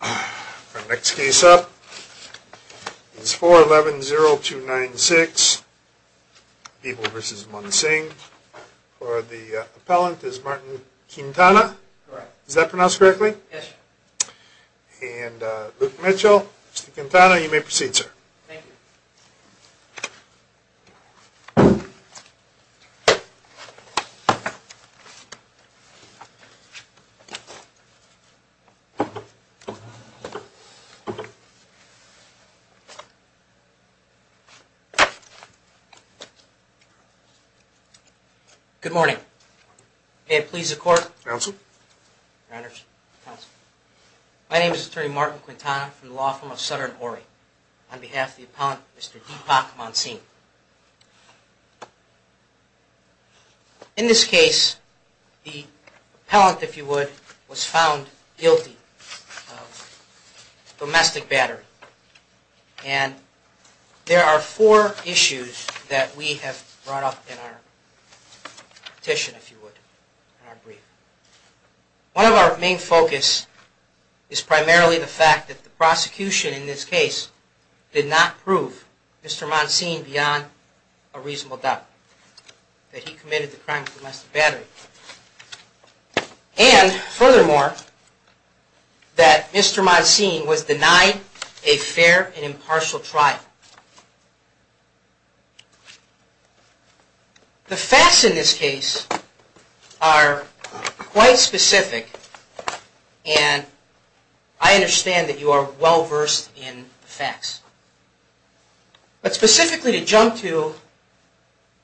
The next case up is 411-0296 People v. Monsingh. For the appellant is Martin Quintana. Correct. Is that pronounced correctly? Yes. And Luke Mitchell, Mr. Quintana, you may proceed, sir. Thank you. Good morning. May it please the court. Counsel. Your honors. Counsel. My name is Attorney Martin Quintana from the law firm of Sutter and Horry. On behalf of the appellant, Mr. Deepak Monsingh. In this case, the appellant, if you would, was found guilty of domestic battery. And there are four issues that we have brought up in our petition, if you would, in our brief. One of our main focus is primarily the fact that the prosecution in this case did not prove Mr. Monsingh beyond a reasonable doubt that he committed the crime of domestic battery. And furthermore, that Mr. Monsingh was denied a fair and impartial trial. The facts in this case are quite specific. And I understand that you are well versed in facts. But specifically to jump to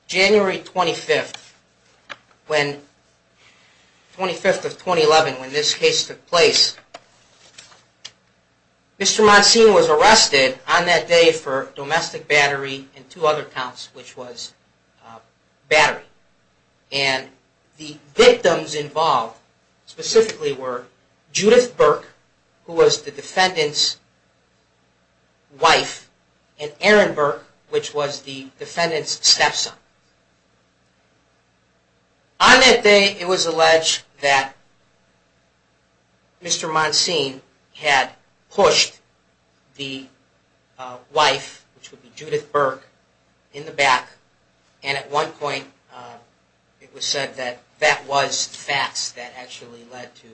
January 25th, when 25th of 2011, when this case took place, Mr. Monsingh was arrested on that day for domestic battery and two other counts, which was battery. And the victims involved specifically were Judith Burke, who was the defendant's wife, and Aaron Burke, which was the defendant's stepson. On that day, it was alleged that Mr. Monsingh had pushed the wife, which would be Judith Burke, in the back. And at one point, it was said that that was facts that actually led to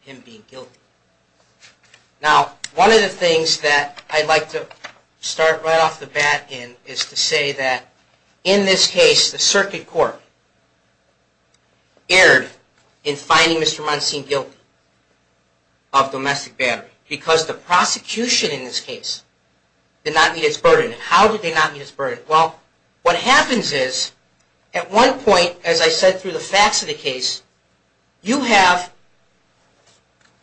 him being guilty. Now, one of the things that I'd like to start right off the bat in is to say that in this case, the circuit court erred in finding Mr. Monsingh guilty of domestic battery because the prosecution in this case did not meet its burden. How did they not meet its burden? Well, what happens is, at one point, as I said through the facts of the case, you have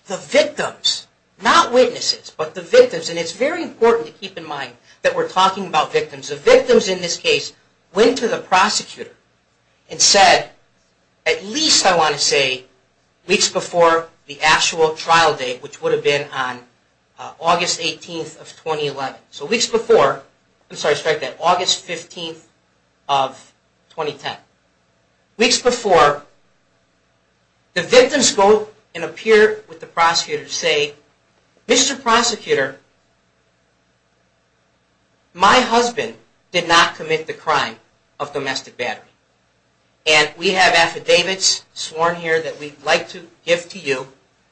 the victims, not witnesses, but the victims, and it's very important to keep in mind that we're talking about victims. The victims in this case went to the prosecutor and said, at least, I want to say, weeks before the actual trial date, which would have been on August 18th of 2011. So weeks before, I'm sorry, strike that, August 15th of 2010. Weeks before, the victims go and appear with the prosecutor to say, Mr. Prosecutor, my husband did not commit the crime of domestic battery. And we have affidavits sworn here that we'd like to give to you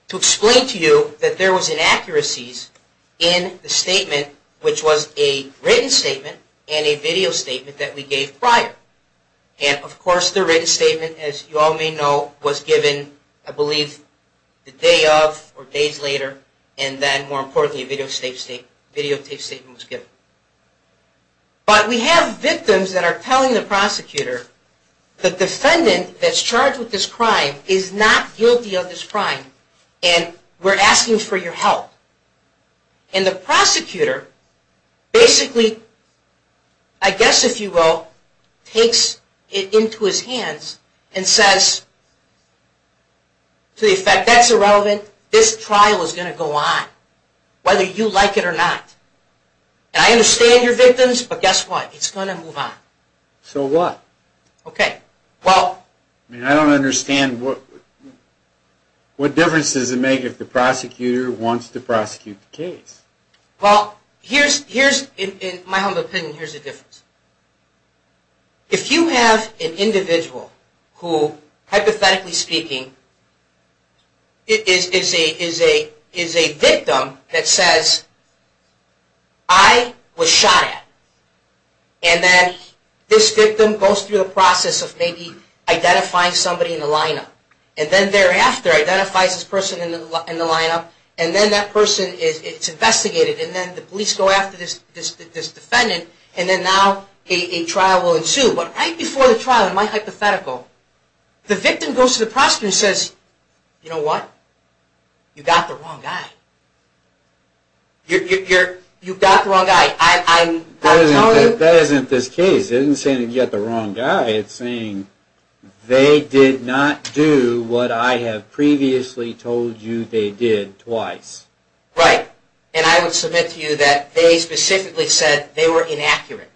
to explain to you that there was inaccuracies in the statement, which was a written statement and a video statement that we gave prior. And, of course, the written statement, as you all may know, was given, I believe, the day of or days later, and then, more importantly, a videotaped statement was given. But we have victims that are telling the prosecutor, the defendant that's charged with this crime is not guilty of this crime, and we're asking for your help. And the prosecutor basically, I guess, if you will, takes it into his hands and says, to the effect, that's irrelevant, this trial is going to go on, whether you like it or not. And I understand your victims, but guess what, it's going to move on. So what? I mean, I don't understand what difference does it make if the prosecutor wants to prosecute the case? Well, here's, in my humble opinion, here's the difference. If you have an individual who, hypothetically speaking, is a victim that says, I was shot at, and then this victim goes through the process of maybe identifying somebody in the lineup, and then thereafter identifies this person in the lineup, and then that person is investigated, and then the police go after this defendant, and then now a trial will ensue. But right before the trial, in my hypothetical, the victim goes to the prosecutor and says, you know what? You got the wrong guy. You got the wrong guy. That isn't this case. It isn't saying that you got the wrong guy. It's saying, they did not do what I have previously told you they did twice. Right. And I would submit to you that they specifically said they were inaccurate.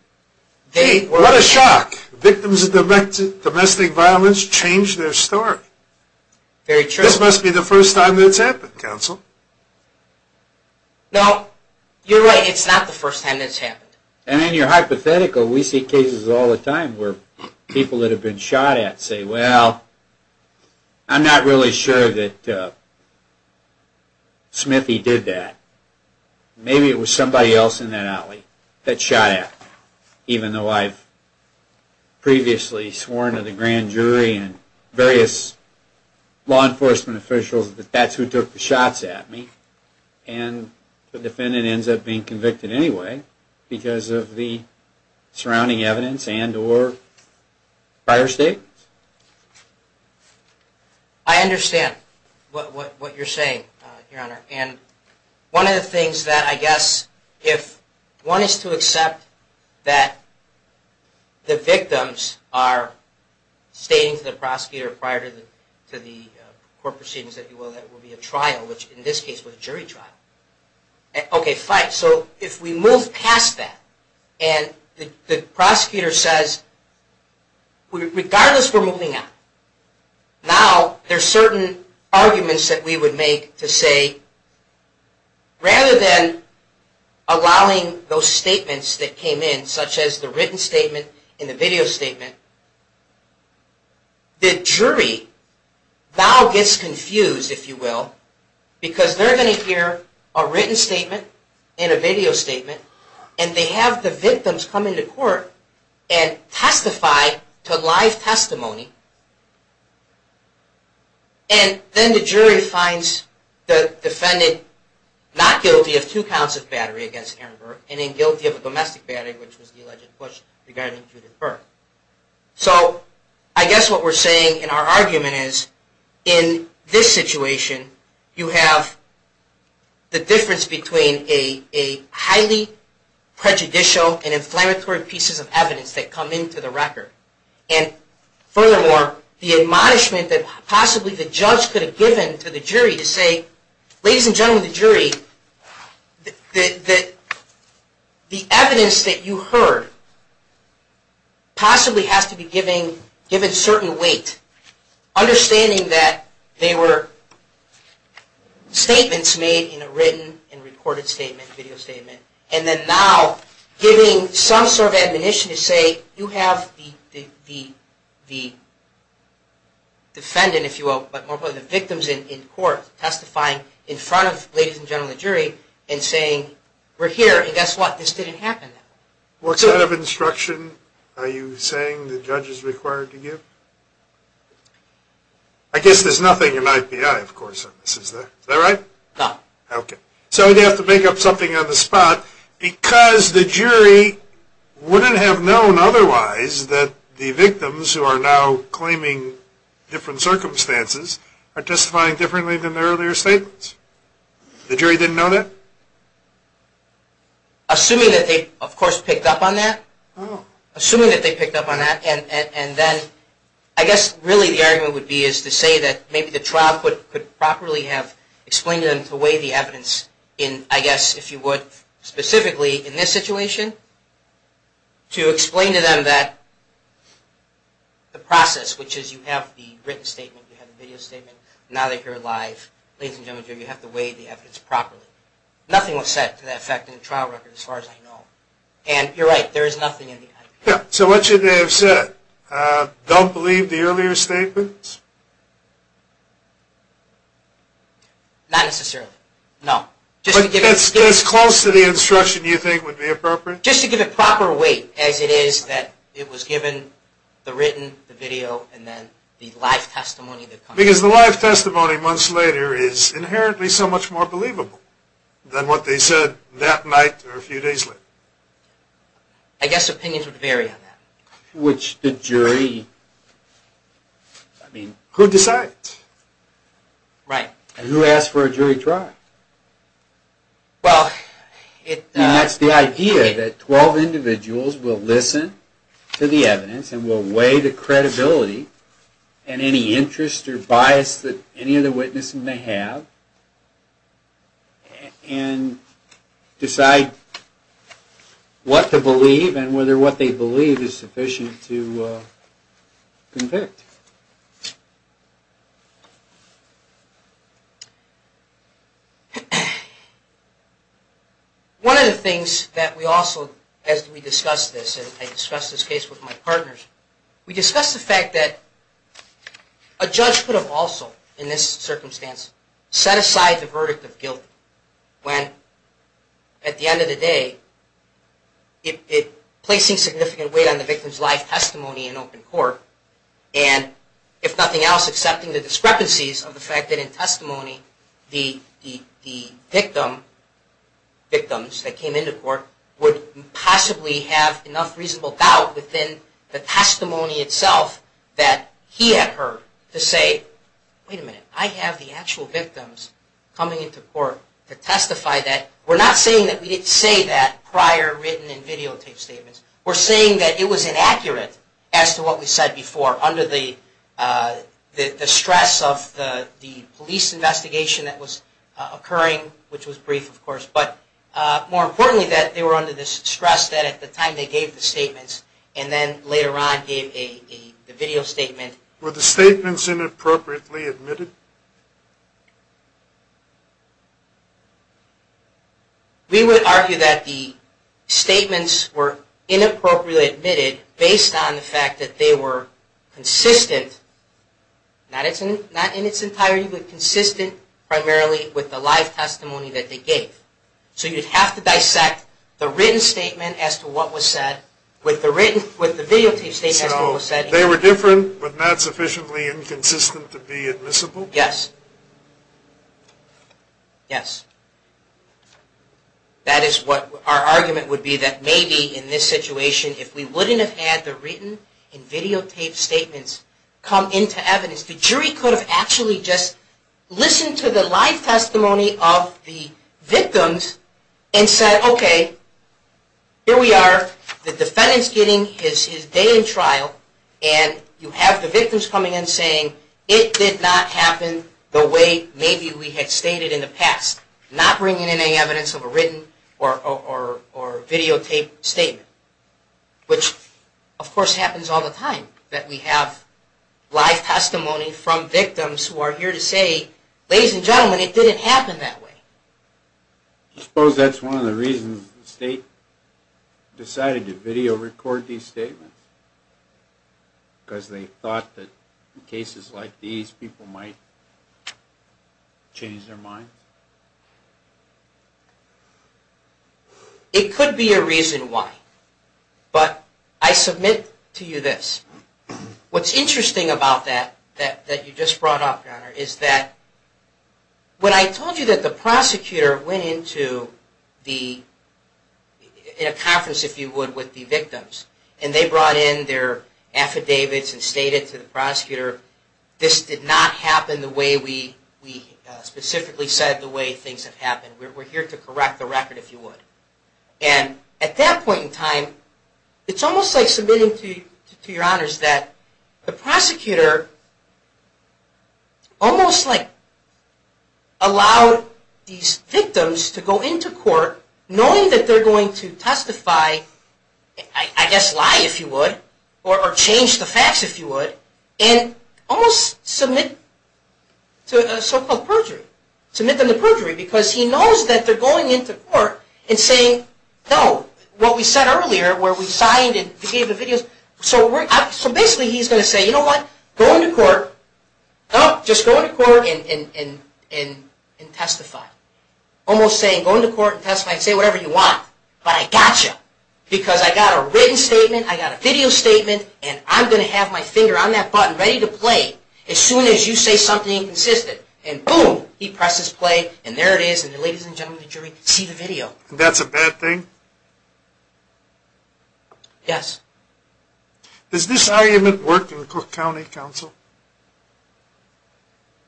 What a shock. Victims of domestic violence change their story. Very true. This must be the first time that's happened, counsel. No. You're right. It's not the first time that's happened. And in your hypothetical, we see cases all the time where people that have been shot at say, well, I'm not really sure that Smithy did that. Maybe it was somebody else in that alley that shot at me, even though I've previously sworn to the grand jury and various law enforcement officials that that's who took the shots at me. And the defendant ends up being convicted anyway because of the surrounding evidence and or prior statements. I understand what you're saying, Your Honor. And one of the things that I guess if one is to accept that the victims are stating to the prosecutor prior to the court proceedings that it will be a trial, which in this case was a jury trial. Okay, fine. So if we move past that and the prosecutor says, regardless, we're moving on, now there are certain arguments that we would make to say, rather than allowing those statements that came in, such as the written statement and the video statement, the jury now gets confused, if you will, because they're going to hear a written statement and a video statement and they have the victims come into court and testify to live testimony. And then the jury finds the defendant not guilty of two counts of battery against Aaron Burke and in guilty of a domestic battery, which was the alleged push regarding Judith Burke. So I guess what we're saying in our argument is in this situation, you have the difference between a highly prejudicial and inflammatory pieces of evidence that come into the record. And furthermore, the admonishment that possibly the judge could have given to the jury to say, ladies and gentlemen of the jury, the evidence that you heard possibly has to be given certain weight. Understanding that they were statements made in a written and recorded statement, video statement, and then now giving some sort of admonition to say, you have the defendant, if you will, but more importantly the victims in court testifying in front of ladies and gentlemen of the jury and saying, we're here and guess what, this didn't happen. What sort of instruction are you saying the judge is required to give? I guess there's nothing in IPI, of course, on this, is there? Is that right? No. Okay. So they have to make up something on the spot because the jury wouldn't have known otherwise that the victims who are now claiming different circumstances are testifying differently than their earlier statements. The jury didn't know that? No. Assuming that they, of course, picked up on that. Oh. Assuming that they picked up on that and then I guess really the argument would be is to say that maybe the trial could properly have explained to them to weigh the evidence in, I guess, if you would, specifically in this situation, to explain to them that the process, which is you have the written statement, you have the video statement, now that you're alive, ladies and gentlemen of the jury, you have to weigh the evidence properly. Nothing was said to that effect in the trial record as far as I know. And you're right, there is nothing in the IPI. Yeah. So what should they have said? Don't believe the earlier statements? Not necessarily. No. But that's close to the instruction you think would be appropriate? Just to give it proper weight as it is that it was given, the written, the video, and then the live testimony that comes. Because the live testimony months later is inherently so much more believable than what they said that night or a few days later. I guess opinions would vary on that. Which the jury, I mean... Could decide. Right. Who asked for a jury trial? Well, it... And that's the idea, that 12 individuals will listen to the evidence and will weigh the credibility and any interest or bias that any of the witnesses may have, and decide what to believe and whether what they believe is sufficient to convict. One of the things that we also, as we discussed this, and I discussed this case with my partners, we discussed the fact that a judge could have also, in this circumstance, set aside the verdict of guilt when, at the end of the day, placing significant weight on the victim's live testimony in open court, and, if nothing else, accepting the discrepancies of the fact that in testimony, the victim, victims that came into court, would possibly have enough reasonable doubt within the testimony itself that he had heard to say, Wait a minute, I have the actual victims coming into court to testify that... We're not saying that we didn't say that prior written and videotaped statements. We're saying that it was inaccurate as to what we said before, under the stress of the police investigation that was occurring, which was brief, of course. But, more importantly, that they were under the stress that at the time they gave the statements, and then later on gave a video statement... Were the statements inappropriately admitted? We would argue that the statements were inappropriately admitted based on the fact that they were consistent, not in its entirety, but consistent primarily with the live testimony that they gave. So you'd have to dissect the written statement as to what was said, with the videotaped statement as to what was said... They were different, but not sufficiently inconsistent to be admissible? Yes. Yes. That is what our argument would be, that maybe in this situation, if we wouldn't have had the written and videotaped statements come into evidence, the jury could have actually just listened to the live testimony of the victims and said, okay, here we are, the defendant's getting his day in trial, and you have the victims coming in saying, it did not happen the way maybe we had stated in the past. Not bringing in any evidence of a written or videotaped statement. Which, of course, happens all the time, that we have live testimony from victims who are here to say, ladies and gentlemen, it didn't happen that way. I suppose that's one of the reasons the state decided to video record these statements. Because they thought that in cases like these, people might change their minds? It could be a reason why. But I submit to you this. What's interesting about that, that you just brought up, Your Honor, is that when I told you that the prosecutor went into a conference, if you would, with the victims, and they brought in their affidavits and stated to the prosecutor, this did not happen the way we specifically said the way things have happened. We're here to correct the record, if you would. And at that point in time, it's almost like submitting to Your Honors that the prosecutor almost like allowed these victims to go into court, knowing that they're going to testify, I guess lie, if you would, or change the facts, if you would. And almost submit to a so-called perjury. Submit them to perjury, because he knows that they're going into court and saying, no, what we said earlier, where we signed and gave the videos, so basically he's going to say, you know what, go into court, just go into court and testify. Almost saying, go into court and testify and say whatever you want. But I gotcha. Because I got a written statement, I got a video statement, and I'm going to have my finger on that button ready to play as soon as you say something inconsistent. And boom, he presses play, and there it is, and ladies and gentlemen of the jury, see the video. And that's a bad thing? Yes. Does this argument work in Cook County, counsel?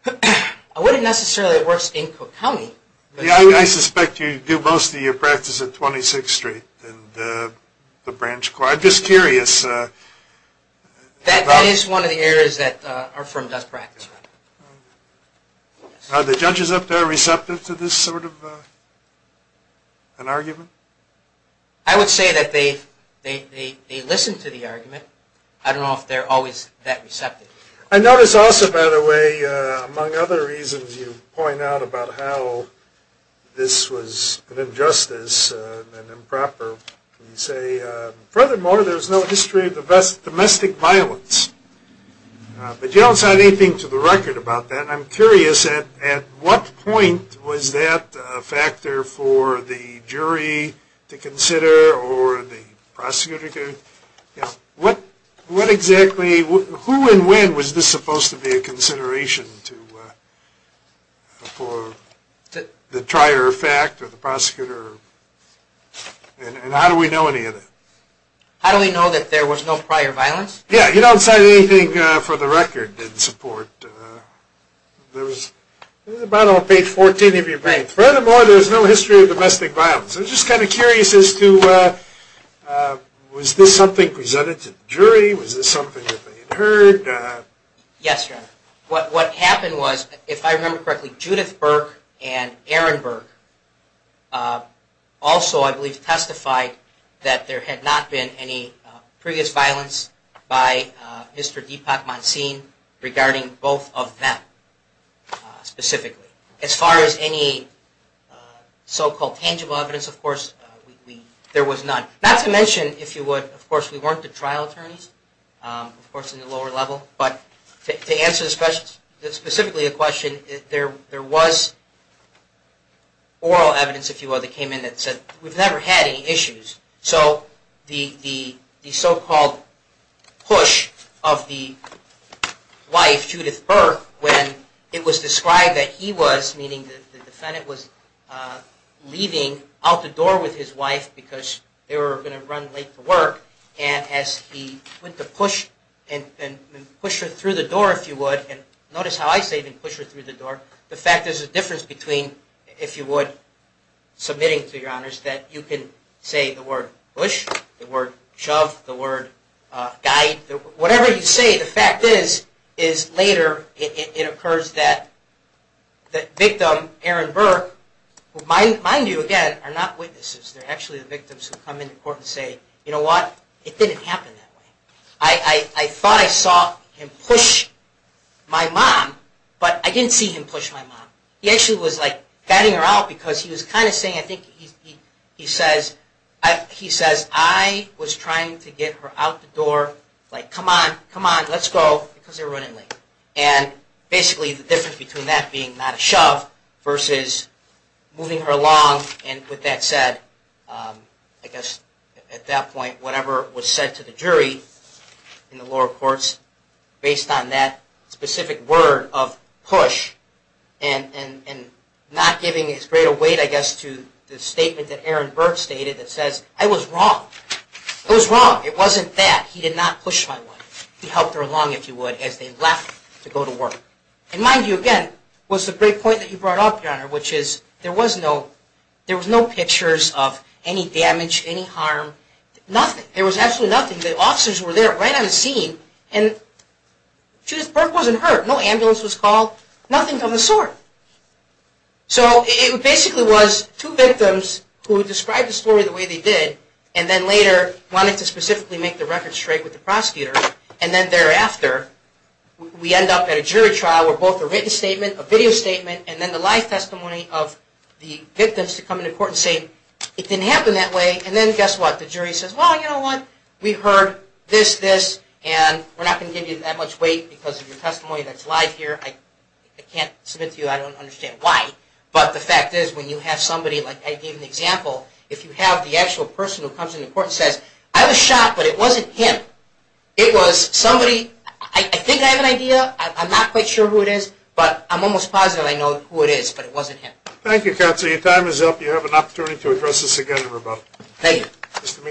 I wouldn't necessarily say it works in Cook County. Yeah, I suspect you do most of your practice at 26th Street and the branch court. I'm just curious. That is one of the areas that are from Dutch practice. Are the judges up there receptive to this sort of an argument? I would say that they listen to the argument. I don't know if they're always that receptive. I notice also, by the way, among other reasons you point out about how this was an injustice and improper. You say, furthermore, there's no history of domestic violence. But you don't cite anything to the record about that, and I'm curious at what point was that a factor for the jury to consider or the prosecutor? Who and when was this supposed to be a consideration for the trier of fact or the prosecutor? And how do we know any of it? How do we know that there was no prior violence? Yeah, you don't cite anything for the record in support. This is about on page 14 of your brief. Furthermore, there's no history of domestic violence. I'm just kind of curious as to was this something presented to the jury? Was this something that they had heard? Yes, Your Honor. What happened was, if I remember correctly, Judith Burke and Aaron Burke also, I believe, testified that there had not been any previous violence by Mr. Deepak Mansin regarding both of them specifically. As far as any so-called tangible evidence, of course, there was none. Not to mention, if you would, of course, we weren't the trial attorneys, of course, in the lower level. But to answer specifically the question, there was oral evidence, if you will, that came in that said we've never had any issues. So the so-called push of the wife, Judith Burke, when it was described that he was, meaning the defendant, was leaving out the door with his wife because they were going to run late to work. And as he went to push her through the door, if you would, and notice how I say push her through the door. The fact there's a difference between, if you would, submitting to Your Honors, that you can say the word push, the word shove, the word guide. Whatever you say, the fact is, is later it occurs that the victim, Aaron Burke, who mind you, again, are not witnesses. They're actually the victims who come into court and say, you know what? It didn't happen that way. I thought I saw him push my mom, but I didn't see him push my mom. He actually was like batting her out because he was kind of saying, I think he says, I was trying to get her out the door, like come on, come on, let's go, because they were running late. And basically the difference between that being not a shove versus moving her along and with that said, I guess at that point, whatever was said to the jury in the lower courts based on that specific word of push and not giving as great a weight, I guess, to the statement that Aaron Burke stated that says, I was wrong. I was wrong. It wasn't that. He did not push my wife. He helped her along, if you would, as they left to go to work. And mind you, again, was the great point that you brought up, Your Honor, which is there was no pictures of any damage, any harm, nothing. There was absolutely nothing. The officers were there right on the scene, and Judith Burke wasn't hurt. No ambulance was called, nothing of the sort. So it basically was two victims who described the story the way they did and then later wanted to specifically make the record And then thereafter, we end up at a jury trial where both a written statement, a video statement, and then the live testimony of the victims to come into court and say, it didn't happen that way. And then guess what? The jury says, well, you know what? We heard this, this, and we're not going to give you that much weight because of your testimony that's live here. I can't submit to you. I don't understand why. But the fact is when you have somebody, like I gave an example, if you have the actual person who comes into court and says, I was shot, but it wasn't him. It was somebody, I think I have an idea. I'm not quite sure who it is, but I'm almost positive I know who it is, but it wasn't him. Thank you, Counselor. Your time is up. You have an opportunity to address this again in rebuttal. Thank you.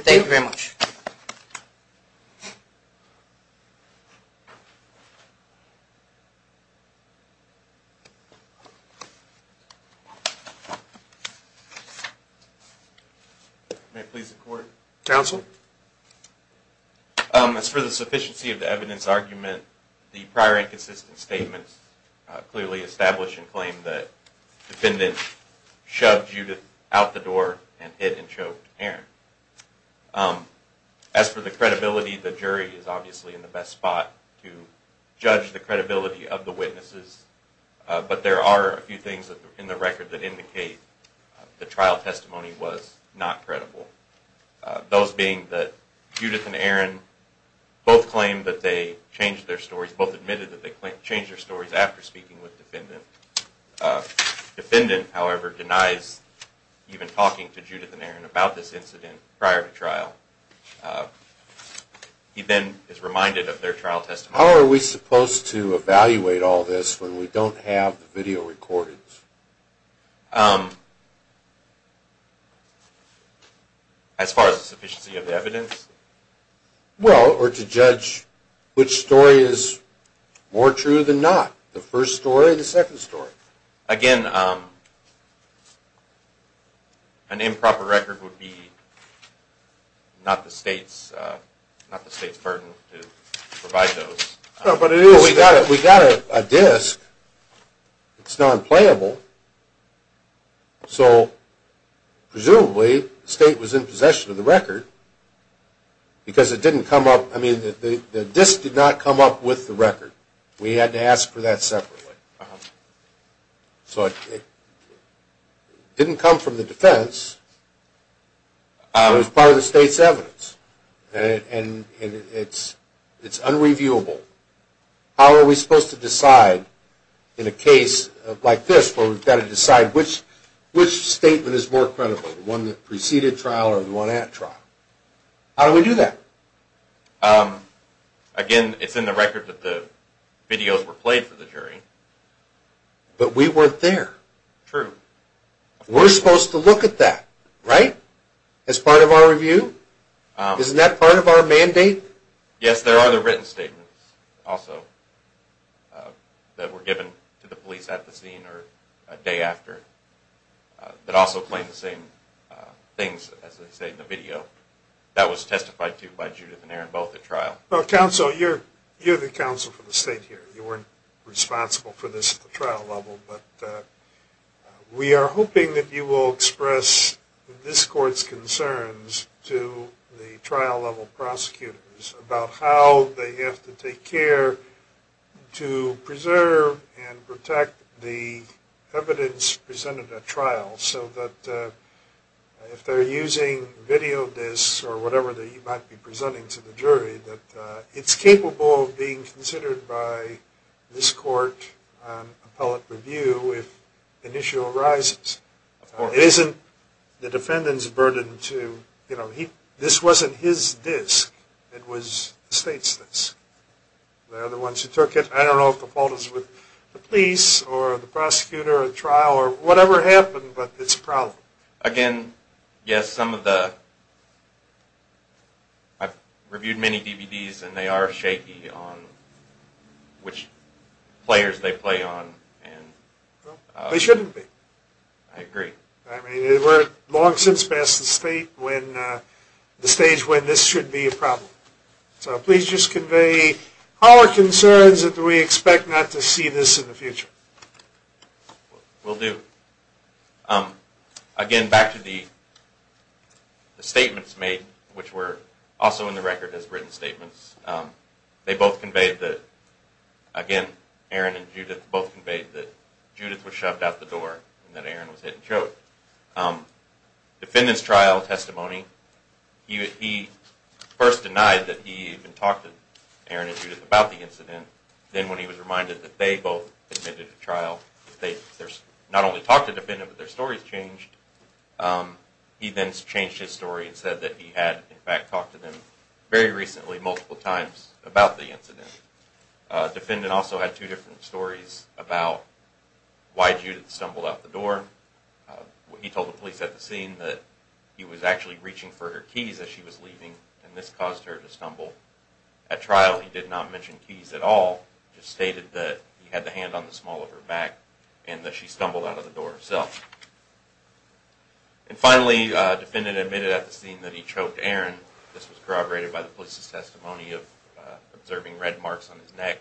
Thank you very much. Thank you. May it please the Court? Counsel? As for the sufficiency of the evidence argument, the prior inconsistent statements clearly establish and claim that the defendant shoved Judith out the door and hit and choked Aaron. As for the credibility, the jury is obviously in the best spot to judge the credibility of the witnesses, but there are a few things in the record that indicate the trial testimony was not credible, those being that Judith and Aaron both claimed that they changed their stories, after speaking with the defendant. The defendant, however, denies even talking to Judith and Aaron about this incident prior to trial. He then is reminded of their trial testimony. How are we supposed to evaluate all this when we don't have the video recordings? Well, or to judge which story is more true than not, the first story or the second story? Again, an improper record would be not the State's burden to provide those. No, but it is. We got a disc. It's non-playable. So, presumably, the State was in possession of the record because it didn't come up. I mean, the disc did not come up with the record. We had to ask for that separately. So it didn't come from the defense. It was part of the State's evidence, and it's unreviewable. How are we supposed to decide in a case like this where we've got to decide which statement is more credible, the one that preceded trial or the one at trial? How do we do that? Again, it's in the record that the videos were played for the jury. But we weren't there. True. We're supposed to look at that, right, as part of our review? Isn't that part of our mandate? Yes, there are the written statements also that were given to the police at the scene or a day after that also claim the same things as they say in the video. That was testified to by Judith and Aaron both at trial. Counsel, you're the counsel for the State here. You weren't responsible for this at the trial level. But we are hoping that you will express this court's concerns to the trial-level prosecutors about how they have to take care to preserve and protect the evidence presented at trial so that if they're using video disks or whatever that you might be presenting to the jury, that it's capable of being considered by this court on appellate review if an issue arises. Of course. It isn't the defendant's burden to, you know, this wasn't his disk. It was the State's disk. They're the ones who took it. I don't know if the fault is with the police or the prosecutor at trial or whatever happened, but it's a problem. Again, yes, some of the, I've reviewed many DVDs and they are shaky on which players they play on. They shouldn't be. I agree. I mean, we're long since passed the State when the stage when this should be a problem. So please just convey our concerns that we expect not to see this in the future. Will do. Again, back to the statements made, which were also in the record as written statements. They both conveyed that, again, Aaron and Judith both conveyed that Judith was shoved out the door and that Aaron was hit and choked. Defendant's trial testimony, he first denied that he even talked to Aaron and Judith about the incident. Then when he was reminded that they both admitted to trial, that they not only talked to the defendant, but their stories changed, he then changed his story and said that he had, in fact, talked to them very recently multiple times about the incident. Defendant also had two different stories about why Judith stumbled out the door. He told the police at the scene that he was actually reaching for her keys as she was leaving, and this caused her to stumble. At trial, he did not mention keys at all, just stated that he had the hand on the small of her back and that she stumbled out of the door herself. And finally, defendant admitted at the scene that he choked Aaron. This was corroborated by the police's testimony of observing red marks on his neck.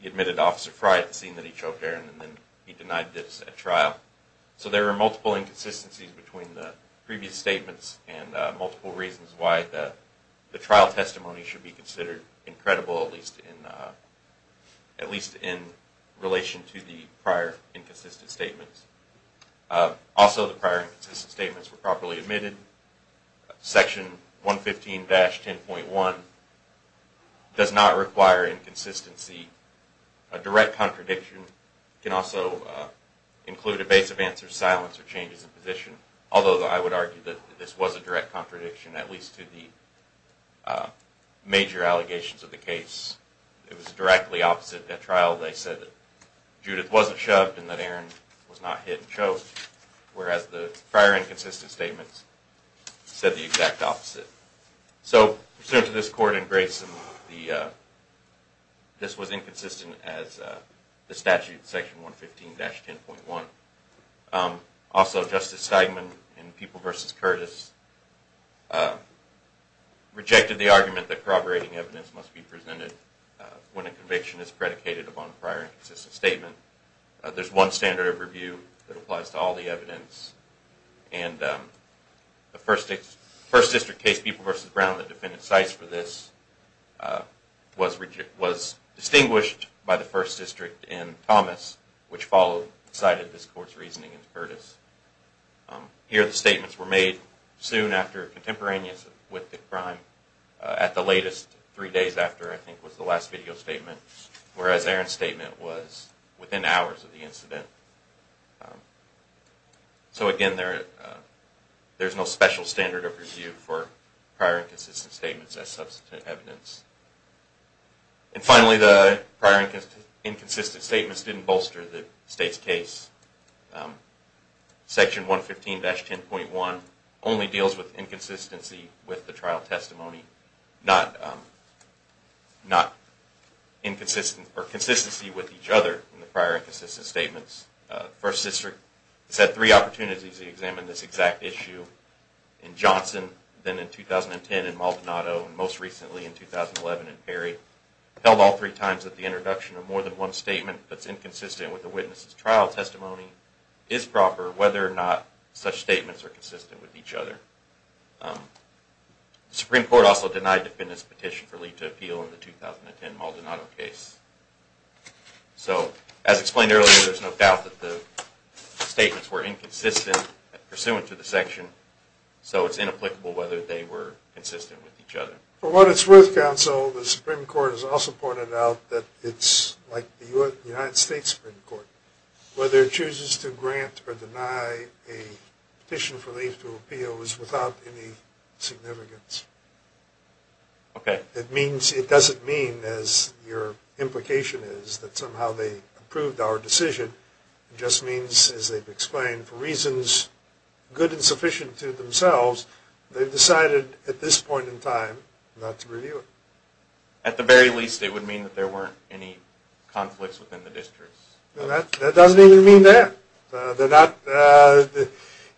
He admitted to Officer Frye at the scene that he choked Aaron, and then he denied this at trial. So there are multiple inconsistencies between the previous statements and multiple reasons why the trial testimony should be considered incredible, at least in relation to the prior inconsistent statements. Also, the prior inconsistent statements were properly admitted. Section 115-10.1 does not require inconsistency. A direct contradiction can also include evasive answers, silence, or changes in position, although I would argue that this was a direct contradiction, at least to the major allegations of the case. It was directly opposite at trial. They said that Judith wasn't shoved and that Aaron was not hit and choked, whereas the prior inconsistent statements said the exact opposite. So, pursuant to this court in Grayson, this was inconsistent as the statute, Section 115-10.1. Also, Justice Stegman in People v. Curtis rejected the argument that corroborating evidence must be presented when a conviction is predicated upon a prior inconsistent statement. There's one standard of review that applies to all the evidence, and the First District case, People v. Brown, the defendant's sites for this, was distinguished by the First District in Thomas, which followed the site of this court's reasoning in Curtis. Here, the statements were made soon after contemporaneous with the crime, at the latest three days after, I think, was the last video statement, whereas Aaron's statement was within hours of the incident. So, again, there's no special standard of review for prior inconsistent statements as substantive evidence. And finally, the prior inconsistent statements didn't bolster the state's case. Section 115-10.1 only deals with inconsistency with the trial testimony, not inconsistency with each other in the prior inconsistent statements. The First District has had three opportunities to examine this exact issue, in Johnson, then in 2010 in Maldonado, and most recently in 2011 in Perry. It held all three times that the introduction of more than one statement that's inconsistent with the witness's trial testimony is proper whether or not such statements are consistent with each other. The Supreme Court also denied defendants' petition for leave to appeal in the 2010 Maldonado case. So, as explained earlier, there's no doubt that the statements were inconsistent pursuant to the section, so it's inapplicable whether they were consistent with each other. For what it's worth, counsel, the Supreme Court has also pointed out that it's like the United States Supreme Court. Whether it chooses to grant or deny a petition for leave to appeal is without any significance. It doesn't mean, as your implication is, that somehow they approved our decision. It just means, as they've explained, for reasons good and sufficient to themselves, they've decided at this point in time not to review it. At the very least, it would mean that there weren't any conflicts within the districts. That doesn't even mean that.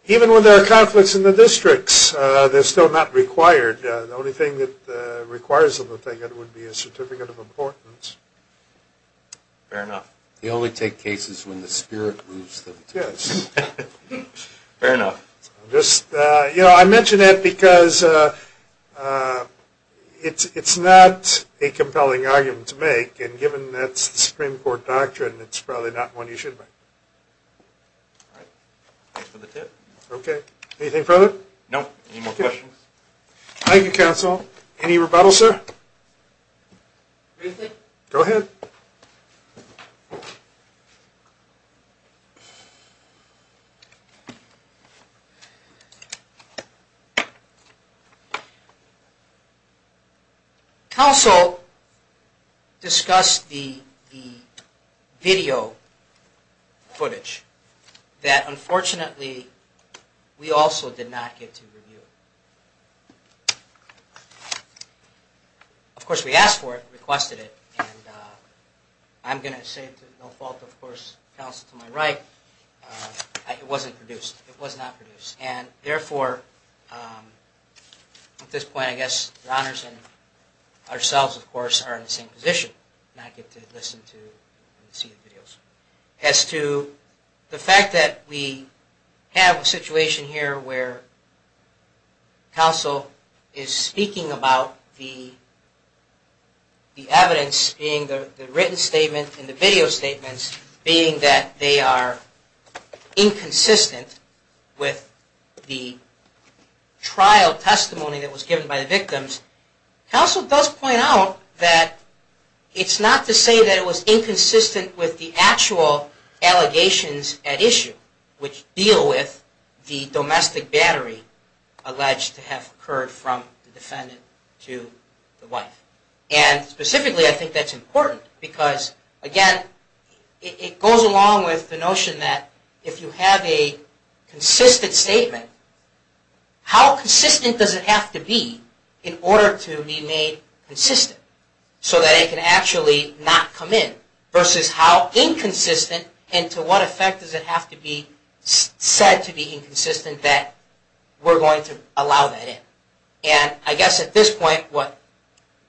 Even when there are conflicts in the districts, they're still not required. The only thing that requires them to take it would be a Certificate of Importance. Fair enough. They only take cases when the spirit moves them to it. Fair enough. I mention that because it's not a compelling argument to make, and given that's the Supreme Court doctrine, it's probably not one you should make. All right. Thanks for the tip. Okay. Anything further? No. Any more questions? Thank you, counsel. Any rebuttal, sir? Go ahead. Counsel discussed the video footage that, unfortunately, we also did not get to review. Of course, we asked for it, requested it, and I'm going to say to no fault, of course, counsel to my right, it wasn't produced. It was not produced. And therefore, at this point, I guess your honors and ourselves, of course, are in the same position. I get to listen to and see the videos. As to the fact that we have a situation here where counsel is speaking about the evidence, being the written statement and the video statements, being that they are inconsistent with the trial testimony that was given by the victims, counsel does point out that it's not to say that it was inconsistent with the actual allegations at issue, which deal with the domestic battery alleged to have occurred from the defendant to the wife. Specifically, I think that's important because, again, it goes along with the notion that if you have a consistent statement, how consistent does it have to be in order to be made consistent so that it can actually not come in versus how inconsistent and to what effect does it have to be said to be inconsistent that we're going to allow that in. I guess at this point, what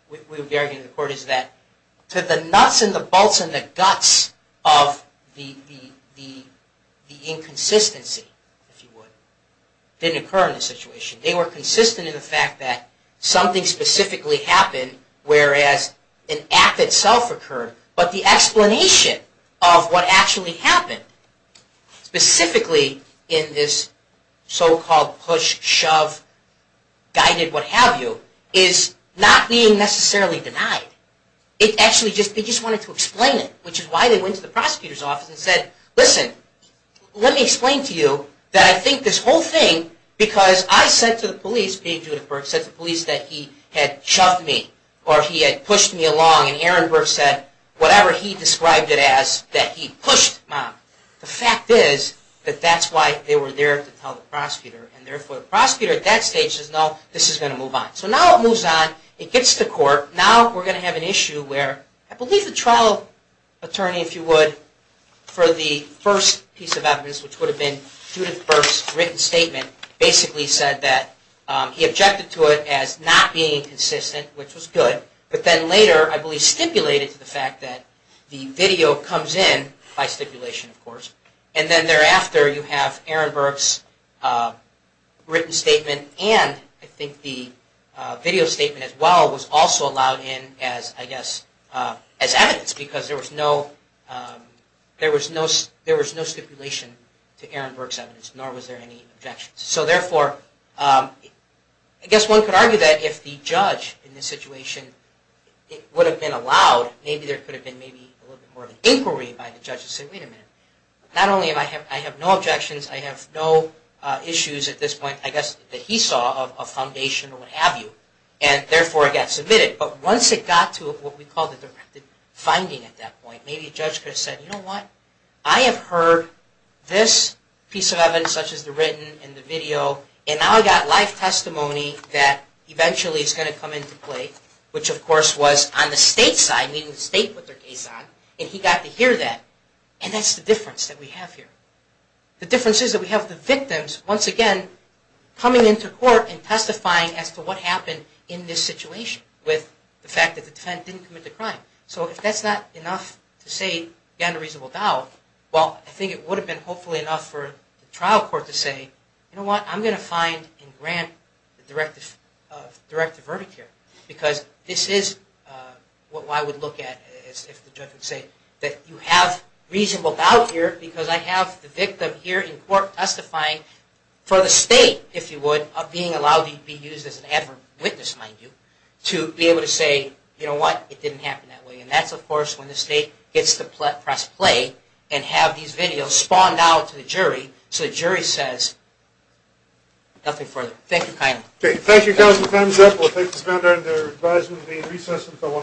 we would be arguing in court is that to the nuts and the bolts and the guts of the inconsistency, if you would, didn't occur in this situation. They were consistent in the fact that something specifically happened, whereas an act itself occurred. But the explanation of what actually happened, specifically in this so-called push, shove, guided, what have you, is not being necessarily denied. They just wanted to explain it, which is why they went to the prosecutor's office and said, listen, let me explain to you that I think this whole thing, because I said to the police, just being Judith Burke, said to the police that he had shoved me or he had pushed me along and Aaron Burke said whatever he described it as, that he pushed mom. The fact is that that's why they were there to tell the prosecutor. Therefore, the prosecutor at that stage says, no, this is going to move on. Now it moves on. It gets to court. Now we're going to have an issue where I believe the trial attorney, if you would, for the first piece of evidence, which would have been Judith Burke's written statement, basically said that he objected to it as not being consistent, which was good, but then later I believe stipulated to the fact that the video comes in by stipulation, of course, and then thereafter you have Aaron Burke's written statement and I think the video statement as well was also allowed in as evidence because there was no stipulation to Aaron Burke's evidence, nor was there any objections. So therefore, I guess one could argue that if the judge in this situation would have been allowed, maybe there could have been a little bit more of an inquiry by the judge to say, wait a minute, not only do I have no objections, I have no issues at this point, I guess, that he saw of foundation or what have you, and therefore it got submitted. But once it got to what we call the directed finding at that point, maybe a judge could have said, you know what? I have heard this piece of evidence, such as the written and the video, and now I've got live testimony that eventually is going to come into play, which of course was on the state side, meaning the state put their case on, and he got to hear that, and that's the difference that we have here. The difference is that we have the victims, once again, coming into court and testifying as to what happened in this situation with the fact that the defendant didn't commit the crime. So if that's not enough to say you have a reasonable doubt, well, I think it would have been hopefully enough for the trial court to say, you know what, I'm going to find and grant the directive of directive verdict here, because this is what I would look at if the judge would say that you have reasonable doubt here because I have the victim here in court testifying for the state, if you would, of being allowed to be used as an advert witness, mind you, to be able to say, you know what, it didn't happen that way. And that's, of course, when the state gets to press play and have these videos spawned out to the jury so the jury says nothing further. Thank you kindly. Okay, thank you, counsel. Time is up. We'll take this matter under advisement of the recess until 1 o'clock.